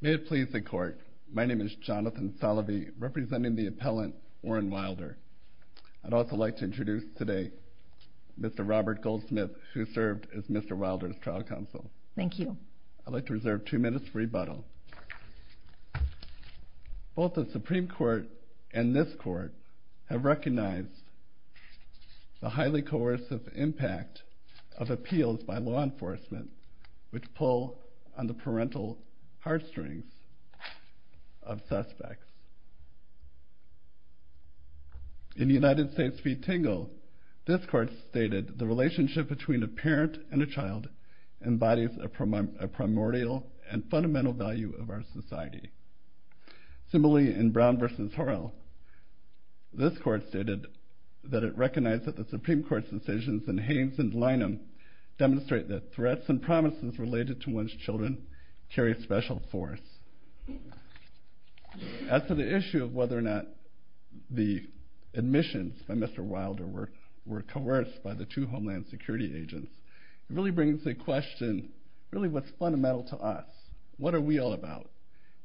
May it please the court, my name is Jonathan Salovey, representing the appellant Warren Wilder. I'd also like to introduce today Mr. Robert Goldsmith, who served as Mr. Wilder's trial counsel. Thank you. I'd like to reserve two minutes for rebuttal. Both the Supreme Court and this Court have recognized the highly coercive impact of appeals by law enforcement which pull on the parental heartstrings of suspects. In United States v. Tingle, this Court stated the relationship between a parent and a child embodies a primordial and fundamental value of our society. Similarly, in Brown v. Horrell, this Court stated that it recognized that the Supreme Court's decisions in Haynes v. Lynham demonstrate that threats and promises related to one's children carry special force. As to the issue of whether or not the admissions by Mr. Wilder were coerced by the two Homeland Security agents, it really brings the question, really what's fundamental to us? What are we all about?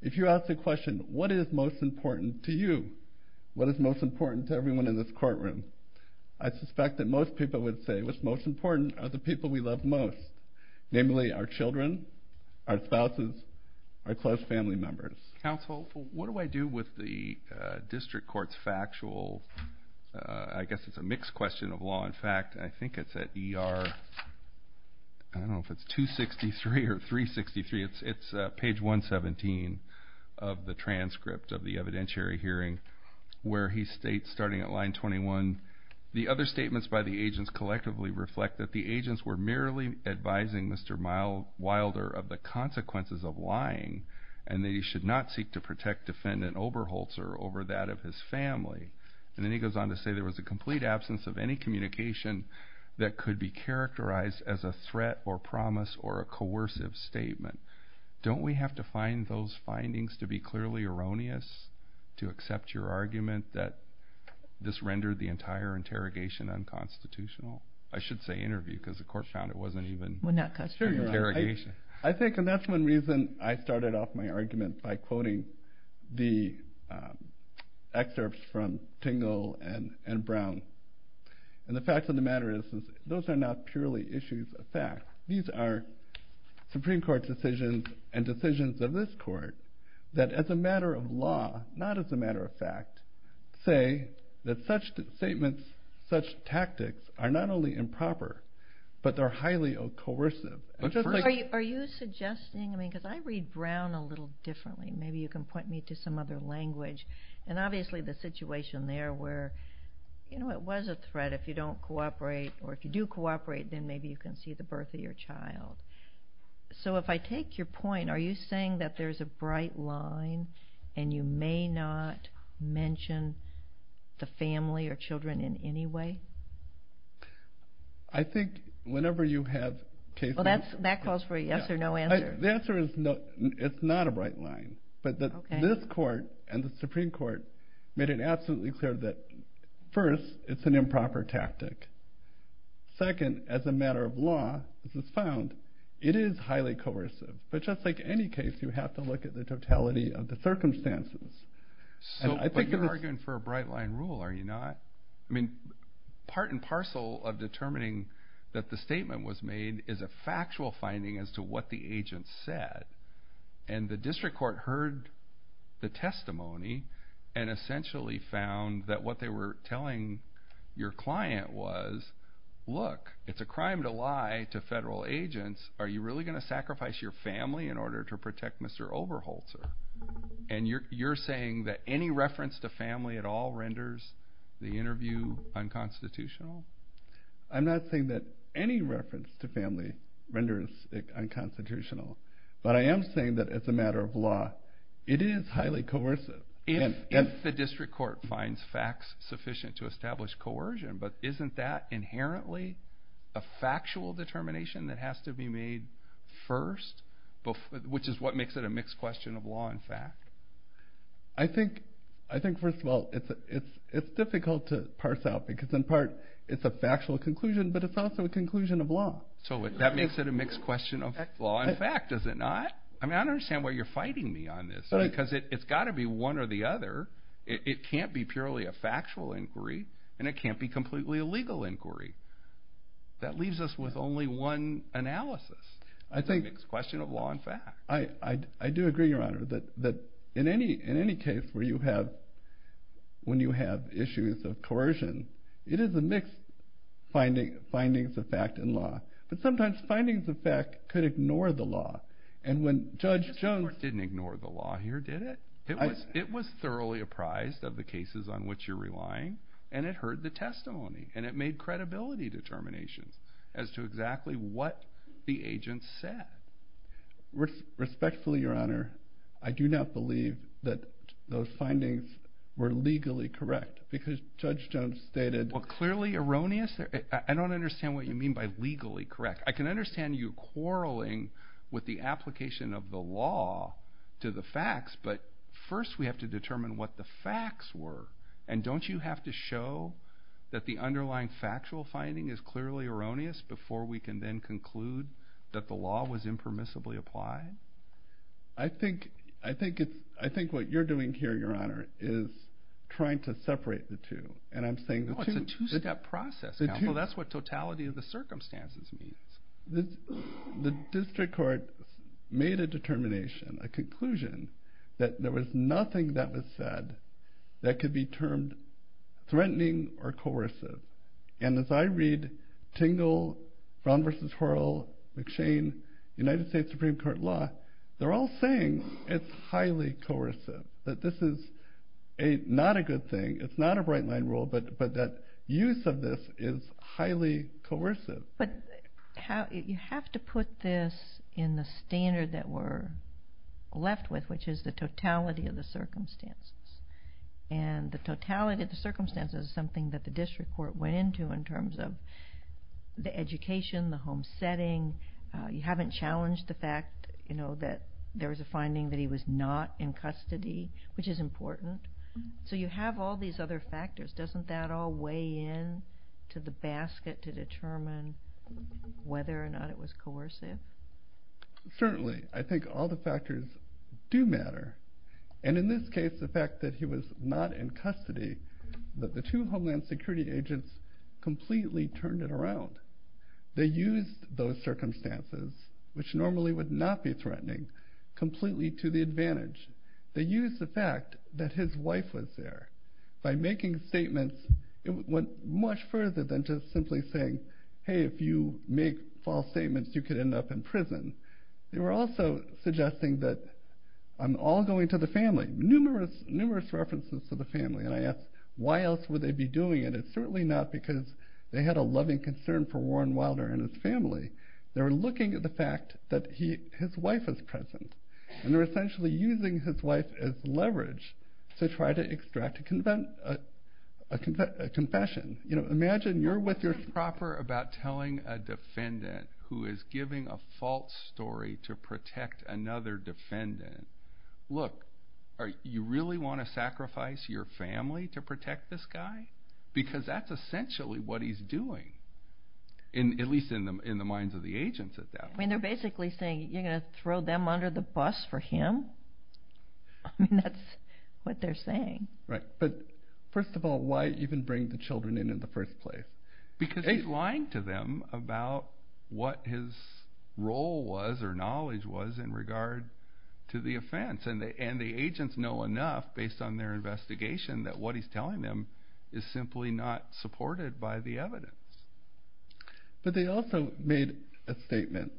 If you ask the question, what is most important to you? What is most important to everyone in this courtroom? I suspect that most people would say what's most important are the people we love most, namely our children, our spouses, our close family members. Counsel, what do I do with the district court's factual, I guess it's a mixed question of law and fact, I think it's at ER, I don't know if it's 263 or 363, it's page 117 of the transcript of the evidentiary hearing where he states, starting at line 21, the other statements by the agents collectively reflect that the agents were merely advising Mr. Wilder of the consequences of lying and that he should not seek to protect defendant Oberholzer over that of his family. And then he goes on to say there was a complete absence of any communication that could be characterized as a threat or promise or a coercive statement. Don't we have to find those findings to be clearly erroneous to accept your argument that this rendered the entire interrogation unconstitutional? I should say interview because the court found it wasn't even interrogation. I think that's one reason I started off my argument by quoting the excerpts from Tingle and Brown. And the fact of the matter is those are not purely issues of fact. These are Supreme Court decisions and decisions of this court that as a matter of law, not as a matter of fact, say that such statements, such tactics are not only improper, but they're highly coercive. Are you suggesting, because I read Brown a little differently, maybe you can point me to some other language. And obviously the situation there where it was a threat if you don't cooperate then maybe you can see the birth of your child. So if I take your point, are you saying that there's a bright line and you may not mention the family or children in any way? I think whenever you have cases... Well, that calls for a yes or no answer. The answer is it's not a bright line. But this court and the Supreme Court made it absolutely clear that, first, it's an improper tactic. Second, as a matter of law, as it's found, it is highly coercive. But just like any case, you have to look at the totality of the circumstances. But you're arguing for a bright line rule, are you not? I mean, part and parcel of determining that the statement was made is a factual finding as to what the agent said. And the district court heard the testimony and essentially found that what they were telling your client was, look, it's a crime to lie to federal agents. Are you really going to sacrifice your family in order to protect Mr. Overholzer? And you're saying that any reference to family at all renders the interview unconstitutional? I'm not saying that any reference to family renders it unconstitutional. But I am saying that, as a matter of law, it is highly coercive. If the district court finds facts sufficient to establish coercion, but isn't that inherently a factual determination that has to be made first, which is what makes it a mixed question of law and fact? I think, first of all, it's difficult to parse out because, in part, it's a factual conclusion, but it's also a conclusion of law. So that makes it a mixed question of law and fact, does it not? I mean, I don't understand why you're fighting me on this because it's got to be one or the other. It can't be purely a factual inquiry, and it can't be completely a legal inquiry. That leaves us with only one analysis. It's a mixed question of law and fact. I do agree, Your Honor, that in any case when you have issues of coercion, it is a mixed findings of fact and law. But sometimes findings of fact could ignore the law, and when Judge Jones— The district court didn't ignore the law here, did it? It was thoroughly apprised of the cases on which you're relying, and it heard the testimony, and it made credibility determinations as to exactly what the agent said. Respectfully, Your Honor, I do not believe that those findings were legally correct because Judge Jones stated— Well, clearly erroneous? I don't understand what you mean by legally correct. I can understand you quarreling with the application of the law to the facts, but first we have to determine what the facts were, and don't you have to show that the underlying factual finding is clearly erroneous before we can then conclude that the law was impermissibly applied? I think what you're doing here, Your Honor, is trying to separate the two, and I'm saying the two— Oh, it's a two-step process, Counsel. That's what totality of the circumstances means. The district court made a determination, a conclusion, that there was nothing that was said that could be termed threatening or coercive, and as I read Tingle, Brown v. Hurl, McShane, United States Supreme Court law, they're all saying it's highly coercive, that this is not a good thing, it's not a bright-line rule, but that use of this is highly coercive. But you have to put this in the standard that we're left with, which is the totality of the circumstances, and the totality of the circumstances is something that the district court went into in terms of the education, the home setting. You haven't challenged the fact that there was a finding that he was not in custody, which is important. So you have all these other factors. Doesn't that all weigh in to the basket to determine whether or not it was coercive? Certainly. I think all the factors do matter, and in this case the fact that he was not in custody, that the two Homeland Security agents completely turned it around. They used those circumstances, which normally would not be threatening, completely to the advantage. They used the fact that his wife was there. By making statements, it went much further than just simply saying, hey, if you make false statements, you could end up in prison. They were also suggesting that I'm all going to the family. Numerous, numerous references to the family, and I asked, why else would they be doing it? It's certainly not because they had a loving concern for Warren Wilder and his family. They were looking at the fact that his wife was present, and they were essentially using his wife as leverage to try to extract a confession. You're proper about telling a defendant who is giving a false story to protect another defendant. Look, you really want to sacrifice your family to protect this guy? Because that's essentially what he's doing, at least in the minds of the agents at that point. They're basically saying, you're going to throw them under the bus for him? That's what they're saying. Right, but first of all, why even bring the children in in the first place? Because he's lying to them about what his role was or knowledge was in regard to the offense, and the agents know enough based on their investigation that what he's telling them is simply not supported by the evidence. But they also made a statement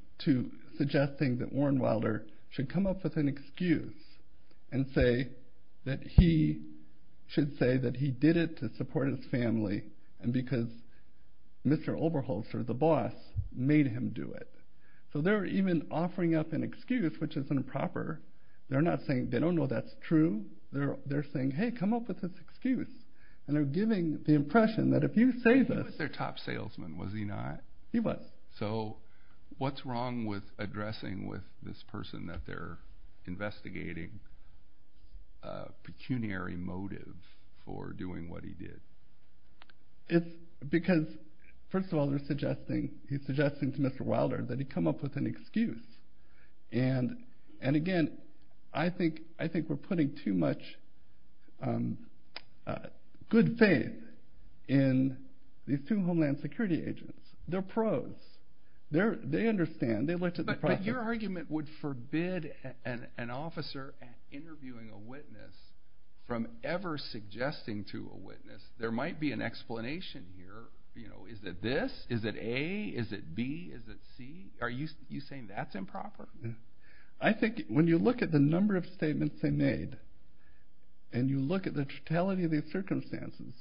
suggesting that Warren Wilder should come up with an excuse and say that he did it to support his family because Mr. Oberholzer, the boss, made him do it. So they're even offering up an excuse, which is improper. They don't know that's true. They're saying, hey, come up with this excuse, and they're giving the impression that if you say this... He was their top salesman, was he not? He was. So what's wrong with addressing with this person that they're investigating a pecuniary motive for doing what he did? It's because, first of all, he's suggesting to Mr. Wilder that he come up with an excuse. And again, I think we're putting too much good faith in these two Homeland Security agents. They're pros. They understand. But your argument would forbid an officer interviewing a witness from ever suggesting to a witness, there might be an explanation here. Is it this? Is it A? Is it B? Is it C? Are you saying that's improper? I think when you look at the number of statements they made and you look at the totality of the circumstances,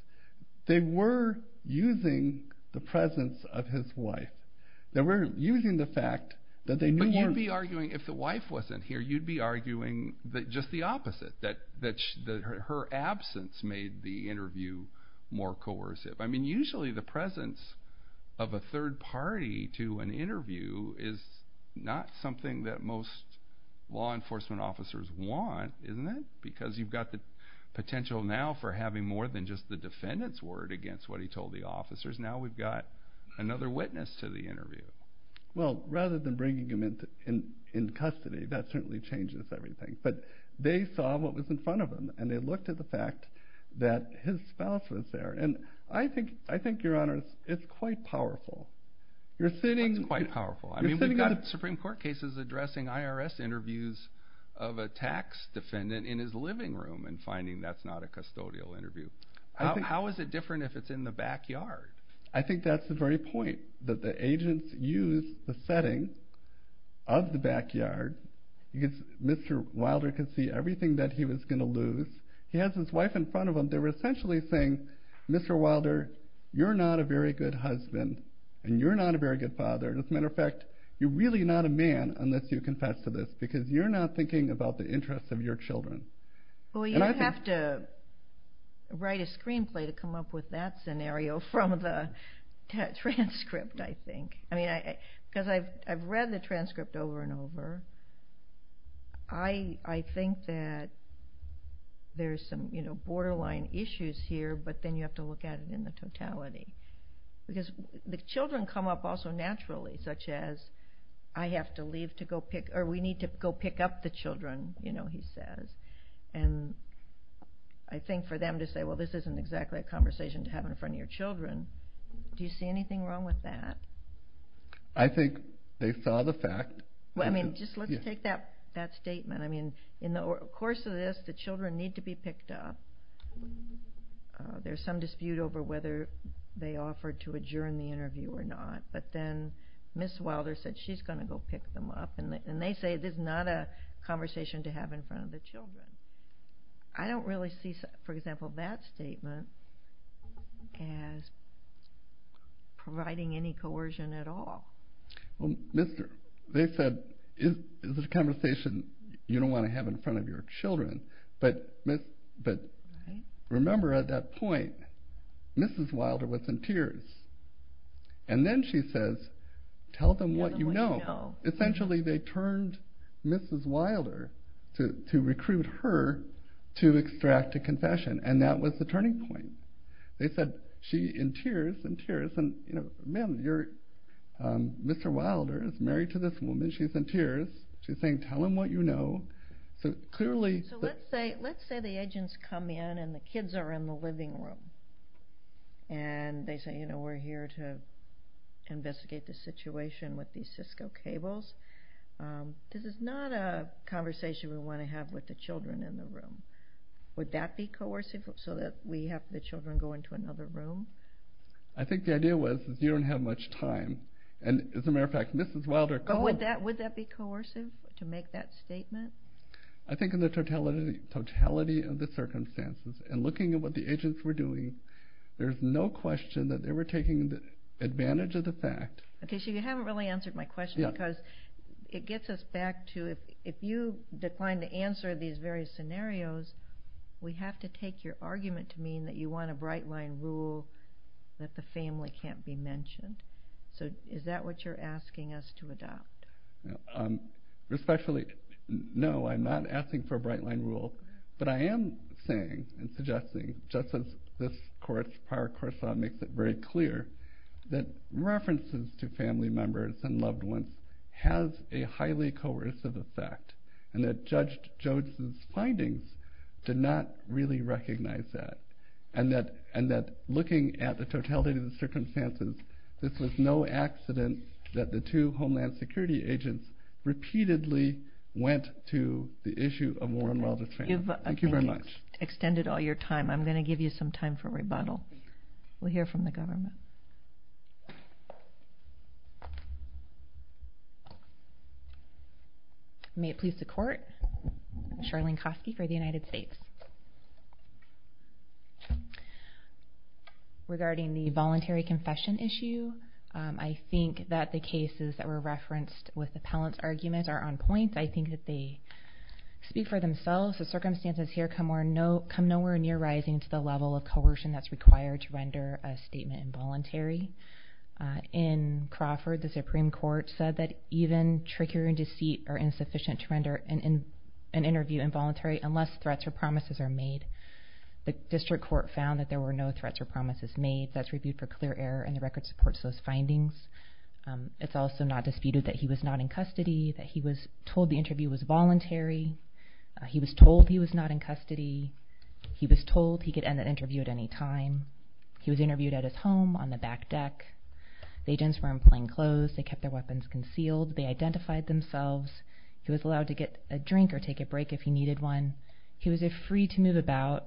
they were using the presence of his wife. They were using the fact that they knew... But you'd be arguing, if the wife wasn't here, you'd be arguing just the opposite, that her absence made the interview more coercive. I mean, usually the presence of a third party to an interview is not something that most law enforcement officers want, isn't it? Because you've got the potential now for having more than just the defendant's word against what he told the officers. Now we've got another witness to the interview. Well, rather than bringing him into custody, that certainly changes everything. But they saw what was in front of them, and they looked at the fact that his spouse was there. And I think, Your Honor, it's quite powerful. What's quite powerful? I mean, we've got Supreme Court cases addressing IRS interviews of a tax defendant in his living room and finding that's not a custodial interview. How is it different if it's in the backyard? I think that's the very point, that the agents used the setting of the backyard. Mr. Wilder could see everything that he was going to lose. He has his wife in front of him. They were essentially saying, Mr. Wilder, you're not a very good husband, and you're not a very good father. As a matter of fact, you're really not a man unless you confess to this because you're not thinking about the interests of your children. Well, you have to write a screenplay to come up with that scenario from the transcript, I think. Because I've read the transcript over and over. I think that there's some borderline issues here, but then you have to look at it in the totality. Because the children come up also naturally, such as, I have to leave to go pick, or we need to go pick up the children, you know, he says. And I think for them to say, well, this isn't exactly a conversation to have in front of your children, do you see anything wrong with that? I think they saw the fact. Well, I mean, just let's take that statement. I mean, in the course of this, the children need to be picked up. There's some dispute over whether they offered to adjourn the interview or not. But then Ms. Wilder said she's going to go pick them up. And they say this is not a conversation to have in front of the children. I don't really see, for example, that statement as providing any coercion at all. Well, they said this is a conversation you don't want to have in front of your children. But remember at that point, Mrs. Wilder was in tears. And then she says, tell them what you know. Essentially, they turned Mrs. Wilder to recruit her to extract a confession. And that was the turning point. They said, she's in tears, in tears. And, you know, ma'am, Mr. Wilder is married to this woman. She's in tears. She's saying, tell them what you know. So let's say the agents come in and the kids are in the living room. And they say, you know, we're here to investigate the situation with these Cisco cables. This is not a conversation we want to have with the children in the room. Would that be coercive so that we have the children go into another room? I think the idea was you don't have much time. And as a matter of fact, Mrs. Wilder called. Would that be coercive to make that statement? I think in the totality of the circumstances and looking at what the agents were doing, there's no question that they were taking advantage of the fact. Okay, so you haven't really answered my question because it gets us back to if you decline to answer these various scenarios, we have to take your argument to mean that you want a bright-line rule that the family can't be mentioned. So is that what you're asking us to adopt? No, I'm not asking for a bright-line rule. But I am saying and suggesting, just as this prior course law makes it very clear, that references to family members and loved ones has a highly coercive effect and that Judge Jodes' findings did not really recognize that. And that looking at the totality of the circumstances, this was no accident that the two Homeland Security agents repeatedly went to the issue of Warren Wilder's family. Thank you very much. You've extended all your time. I'm going to give you some time for rebuttal. We'll hear from the government. May it please the Court. Charlene Kosky for the United States. Regarding the voluntary confession issue, I think that the cases that were referenced with appellant's arguments are on point. I think that they speak for themselves. The circumstances here come nowhere near rising to the level of coercion that's required to render a statement involuntary. In Crawford, the Supreme Court said that even trickery and deceit are insufficient to render an interview involuntary unless threats or promises are made. The district court found that there were no threats or promises made. That's reviewed for clear error, and the record supports those findings. It's also not disputed that he was not in custody, that he was told the interview was voluntary. He was told he was not in custody. He was told he could end that interview at any time. He was interviewed at his home on the back deck. The agents were in plain clothes. They kept their weapons concealed. They identified themselves. He was allowed to get a drink or take a break if he needed one. He was free to move about.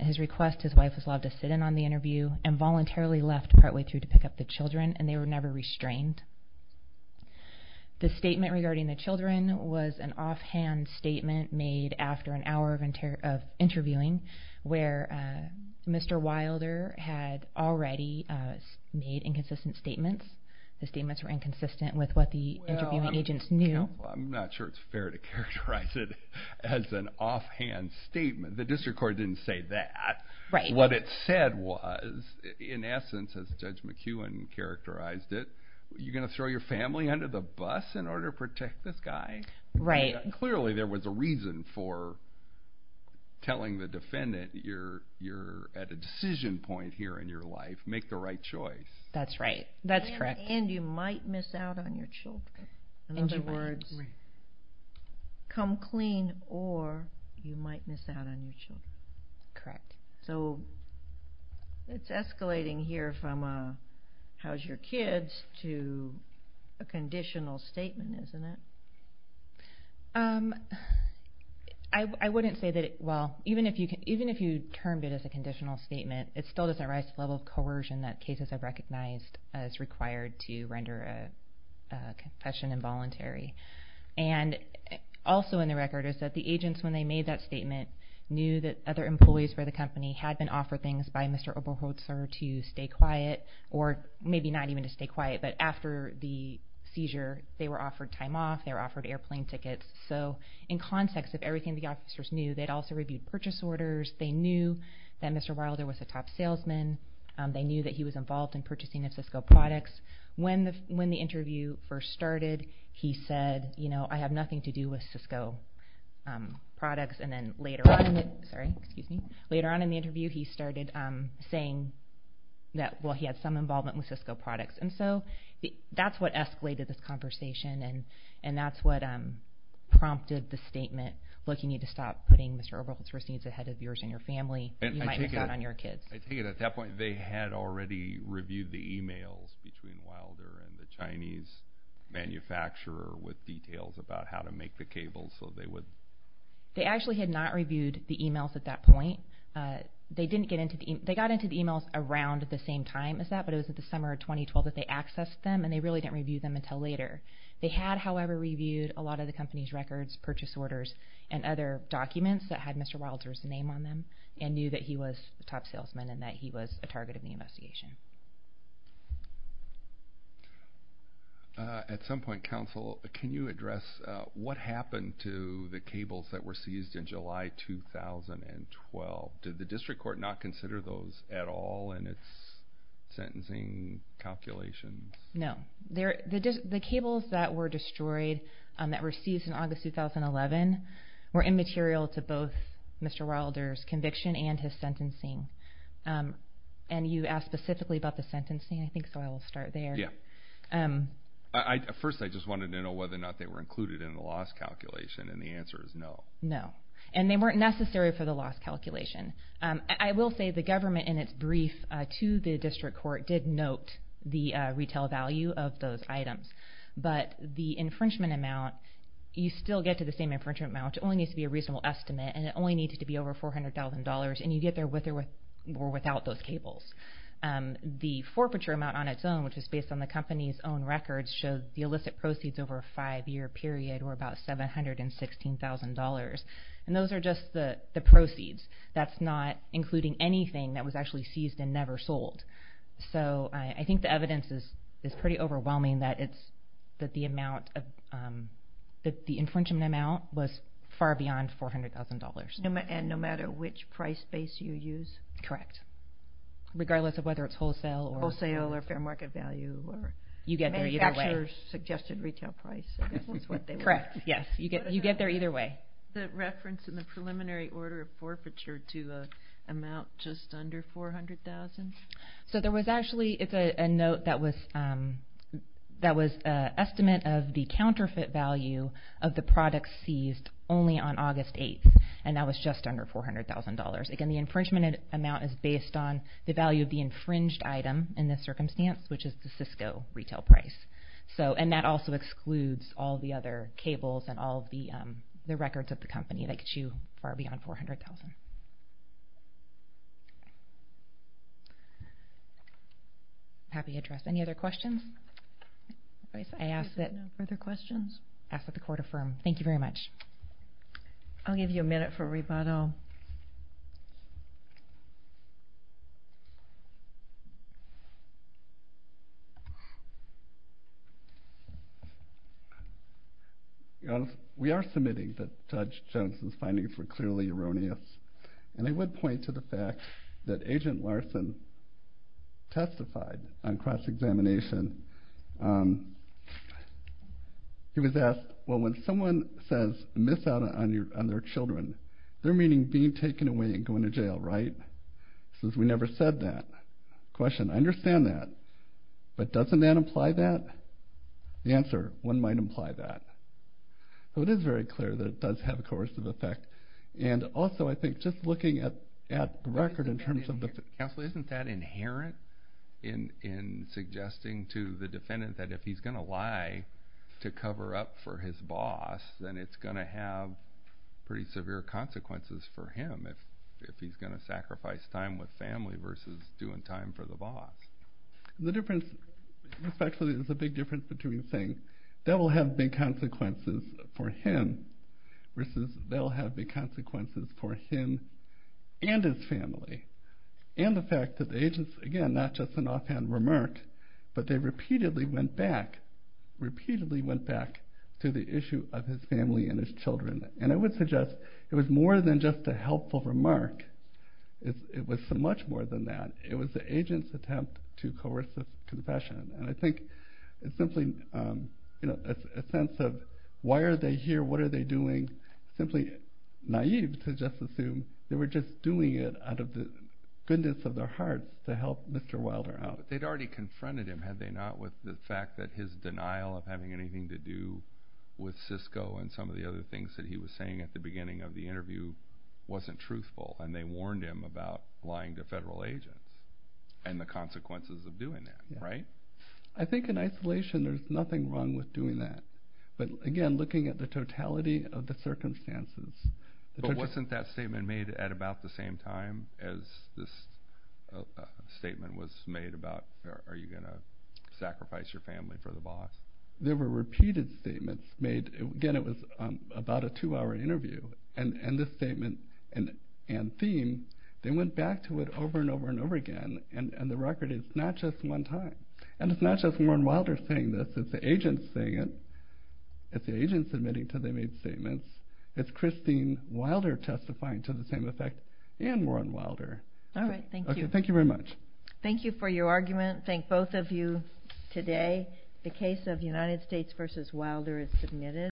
At his request, his wife was allowed to sit in on the interview and voluntarily left partway through to pick up the children, and they were never restrained. The statement regarding the children was an offhand statement made after an hour of interviewing where Mr. Wilder had already made inconsistent statements. The statements were inconsistent with what the interviewing agents knew. Well, I'm not sure it's fair to characterize it as an offhand statement. The district court didn't say that. What it said was, in essence, as Judge McEwen characterized it, you're going to throw your family under the bus in order to protect this guy? Right. Clearly there was a reason for telling the defendant you're at a decision point here in your life. Make the right choice. That's right. That's correct. And you might miss out on your children. In other words, come clean or you might miss out on your children. Correct. So it's escalating here from how's your kids to a conditional statement, isn't it? I wouldn't say that it – well, even if you termed it as a conditional statement, it still doesn't rise to the level of coercion that cases have recognized as required to render a confession involuntary. And also in the record is that the agents, when they made that statement, knew that other employees for the company had been offered things by Mr. Oberholtzer to stay quiet, or maybe not even to stay quiet, but after the seizure they were offered time off, they were offered airplane tickets. So in context of everything the officers knew, they'd also reviewed purchase orders. They knew that Mr. Wilder was a top salesman. They knew that he was involved in purchasing of Cisco products. When the interview first started, he said, I have nothing to do with Cisco products. And then later on in the interview he started saying that, well, he had some involvement with Cisco products. And so that's what escalated this conversation, and that's what prompted the statement, look, you need to stop putting Mr. Oberholtzer's needs ahead of yours and your family. You might miss out on your kids. I take it at that point they had already reviewed the emails between Wilder and the Chinese manufacturer with details about how to make the cables. They actually had not reviewed the emails at that point. They got into the emails around the same time as that, but it was in the summer of 2012 that they accessed them, and they really didn't review them until later. They had, however, reviewed a lot of the company's records, purchase orders, and other documents that had Mr. Wilder's name on them and knew that he was a top salesman and that he was a target of the investigation. At some point, counsel, can you address what happened to the cables that were seized in July 2012? Did the district court not consider those at all in its sentencing calculations? No. The cables that were destroyed, that were seized in August 2011, were immaterial to both Mr. Wilder's conviction and his sentencing. And you asked specifically about the sentencing, I think, so I will start there. Yeah. First, I just wanted to know whether or not they were included in the loss calculation, and the answer is no. No, and they weren't necessary for the loss calculation. I will say the government, in its brief to the district court, did note the retail value of those items, but the infringement amount, you still get to the same infringement amount. It only needs to be a reasonable estimate, and it only needs to be over $400,000, and you get there with or without those cables. The forfeiture amount on its own, which is based on the company's own records, shows the illicit proceeds over a five-year period were about $716,000, and those are just the proceeds. That's not including anything that was actually seized and never sold. So I think the evidence is pretty overwhelming, that the infringement amount was far beyond $400,000. And no matter which price base you use? Correct, regardless of whether it's wholesale or fair market value. Manufacturers suggested retail price. Correct, yes, you get there either way. The reference in the preliminary order of forfeiture to an amount just under $400,000? So there was actually a note that was an estimate of the counterfeit value of the products seized only on August 8th, and that was just under $400,000. Again, the infringement amount is based on the value of the infringed item in this circumstance, which is the Cisco retail price. And that also excludes all the other cables and all of the records of the company that get you far beyond $400,000. Happy to address any other questions? If there are no further questions, ask that the court affirm. Thank you very much. I'll give you a minute for rebuttal. We are submitting that Judge Johnson's findings were clearly erroneous, and I would point to the fact that Agent Larson testified on cross-examination. He was asked, well, when someone says, miss out on their children, they're meaning being taken away and going to jail, right? He says, we never said that. Question, I understand that, but doesn't that imply that? The answer, one might imply that. So it is very clear that it does have a coercive effect, and also I think just looking at the record in terms of the- Counsel, isn't that inherent in suggesting to the defendant that if he's going to lie to cover up for his boss, then it's going to have pretty severe consequences for him if he's going to sacrifice time with family versus doing time for the boss? The difference, this actually is a big difference between saying, that will have big consequences for him versus they'll have big consequences for him and his family. And the fact that the agents, again, not just an offhand remark, but they repeatedly went back, repeatedly went back to the issue of his family and his children. And I would suggest it was more than just a helpful remark. It was so much more than that. It was the agent's attempt to coerce the confession. And I think it's simply a sense of why are they here, what are they doing? Simply naive to just assume they were just doing it out of the goodness of their hearts to help Mr. Wilder out. They'd already confronted him, had they not, with the fact that his denial of having anything to do with Cisco and some of the other things that he was saying at the beginning of the interview wasn't truthful, and they warned him about lying to federal agents and the consequences of doing that, right? I think in isolation there's nothing wrong with doing that. But again, looking at the totality of the circumstances. But wasn't that statement made at about the same time as this statement was made about are you going to sacrifice your family for the boss? There were repeated statements made. Again, it was about a two-hour interview. And this statement and theme, they went back to it over and over and over again. And the record is not just one time. And it's not just Warren Wilder saying this. It's the agents saying it. It's the agents admitting to they made statements. It's Christine Wilder testifying to the same effect and Warren Wilder. All right, thank you. Thank you very much. Thank you for your argument. Thank both of you today. The case of United States v. Wilder is submitted.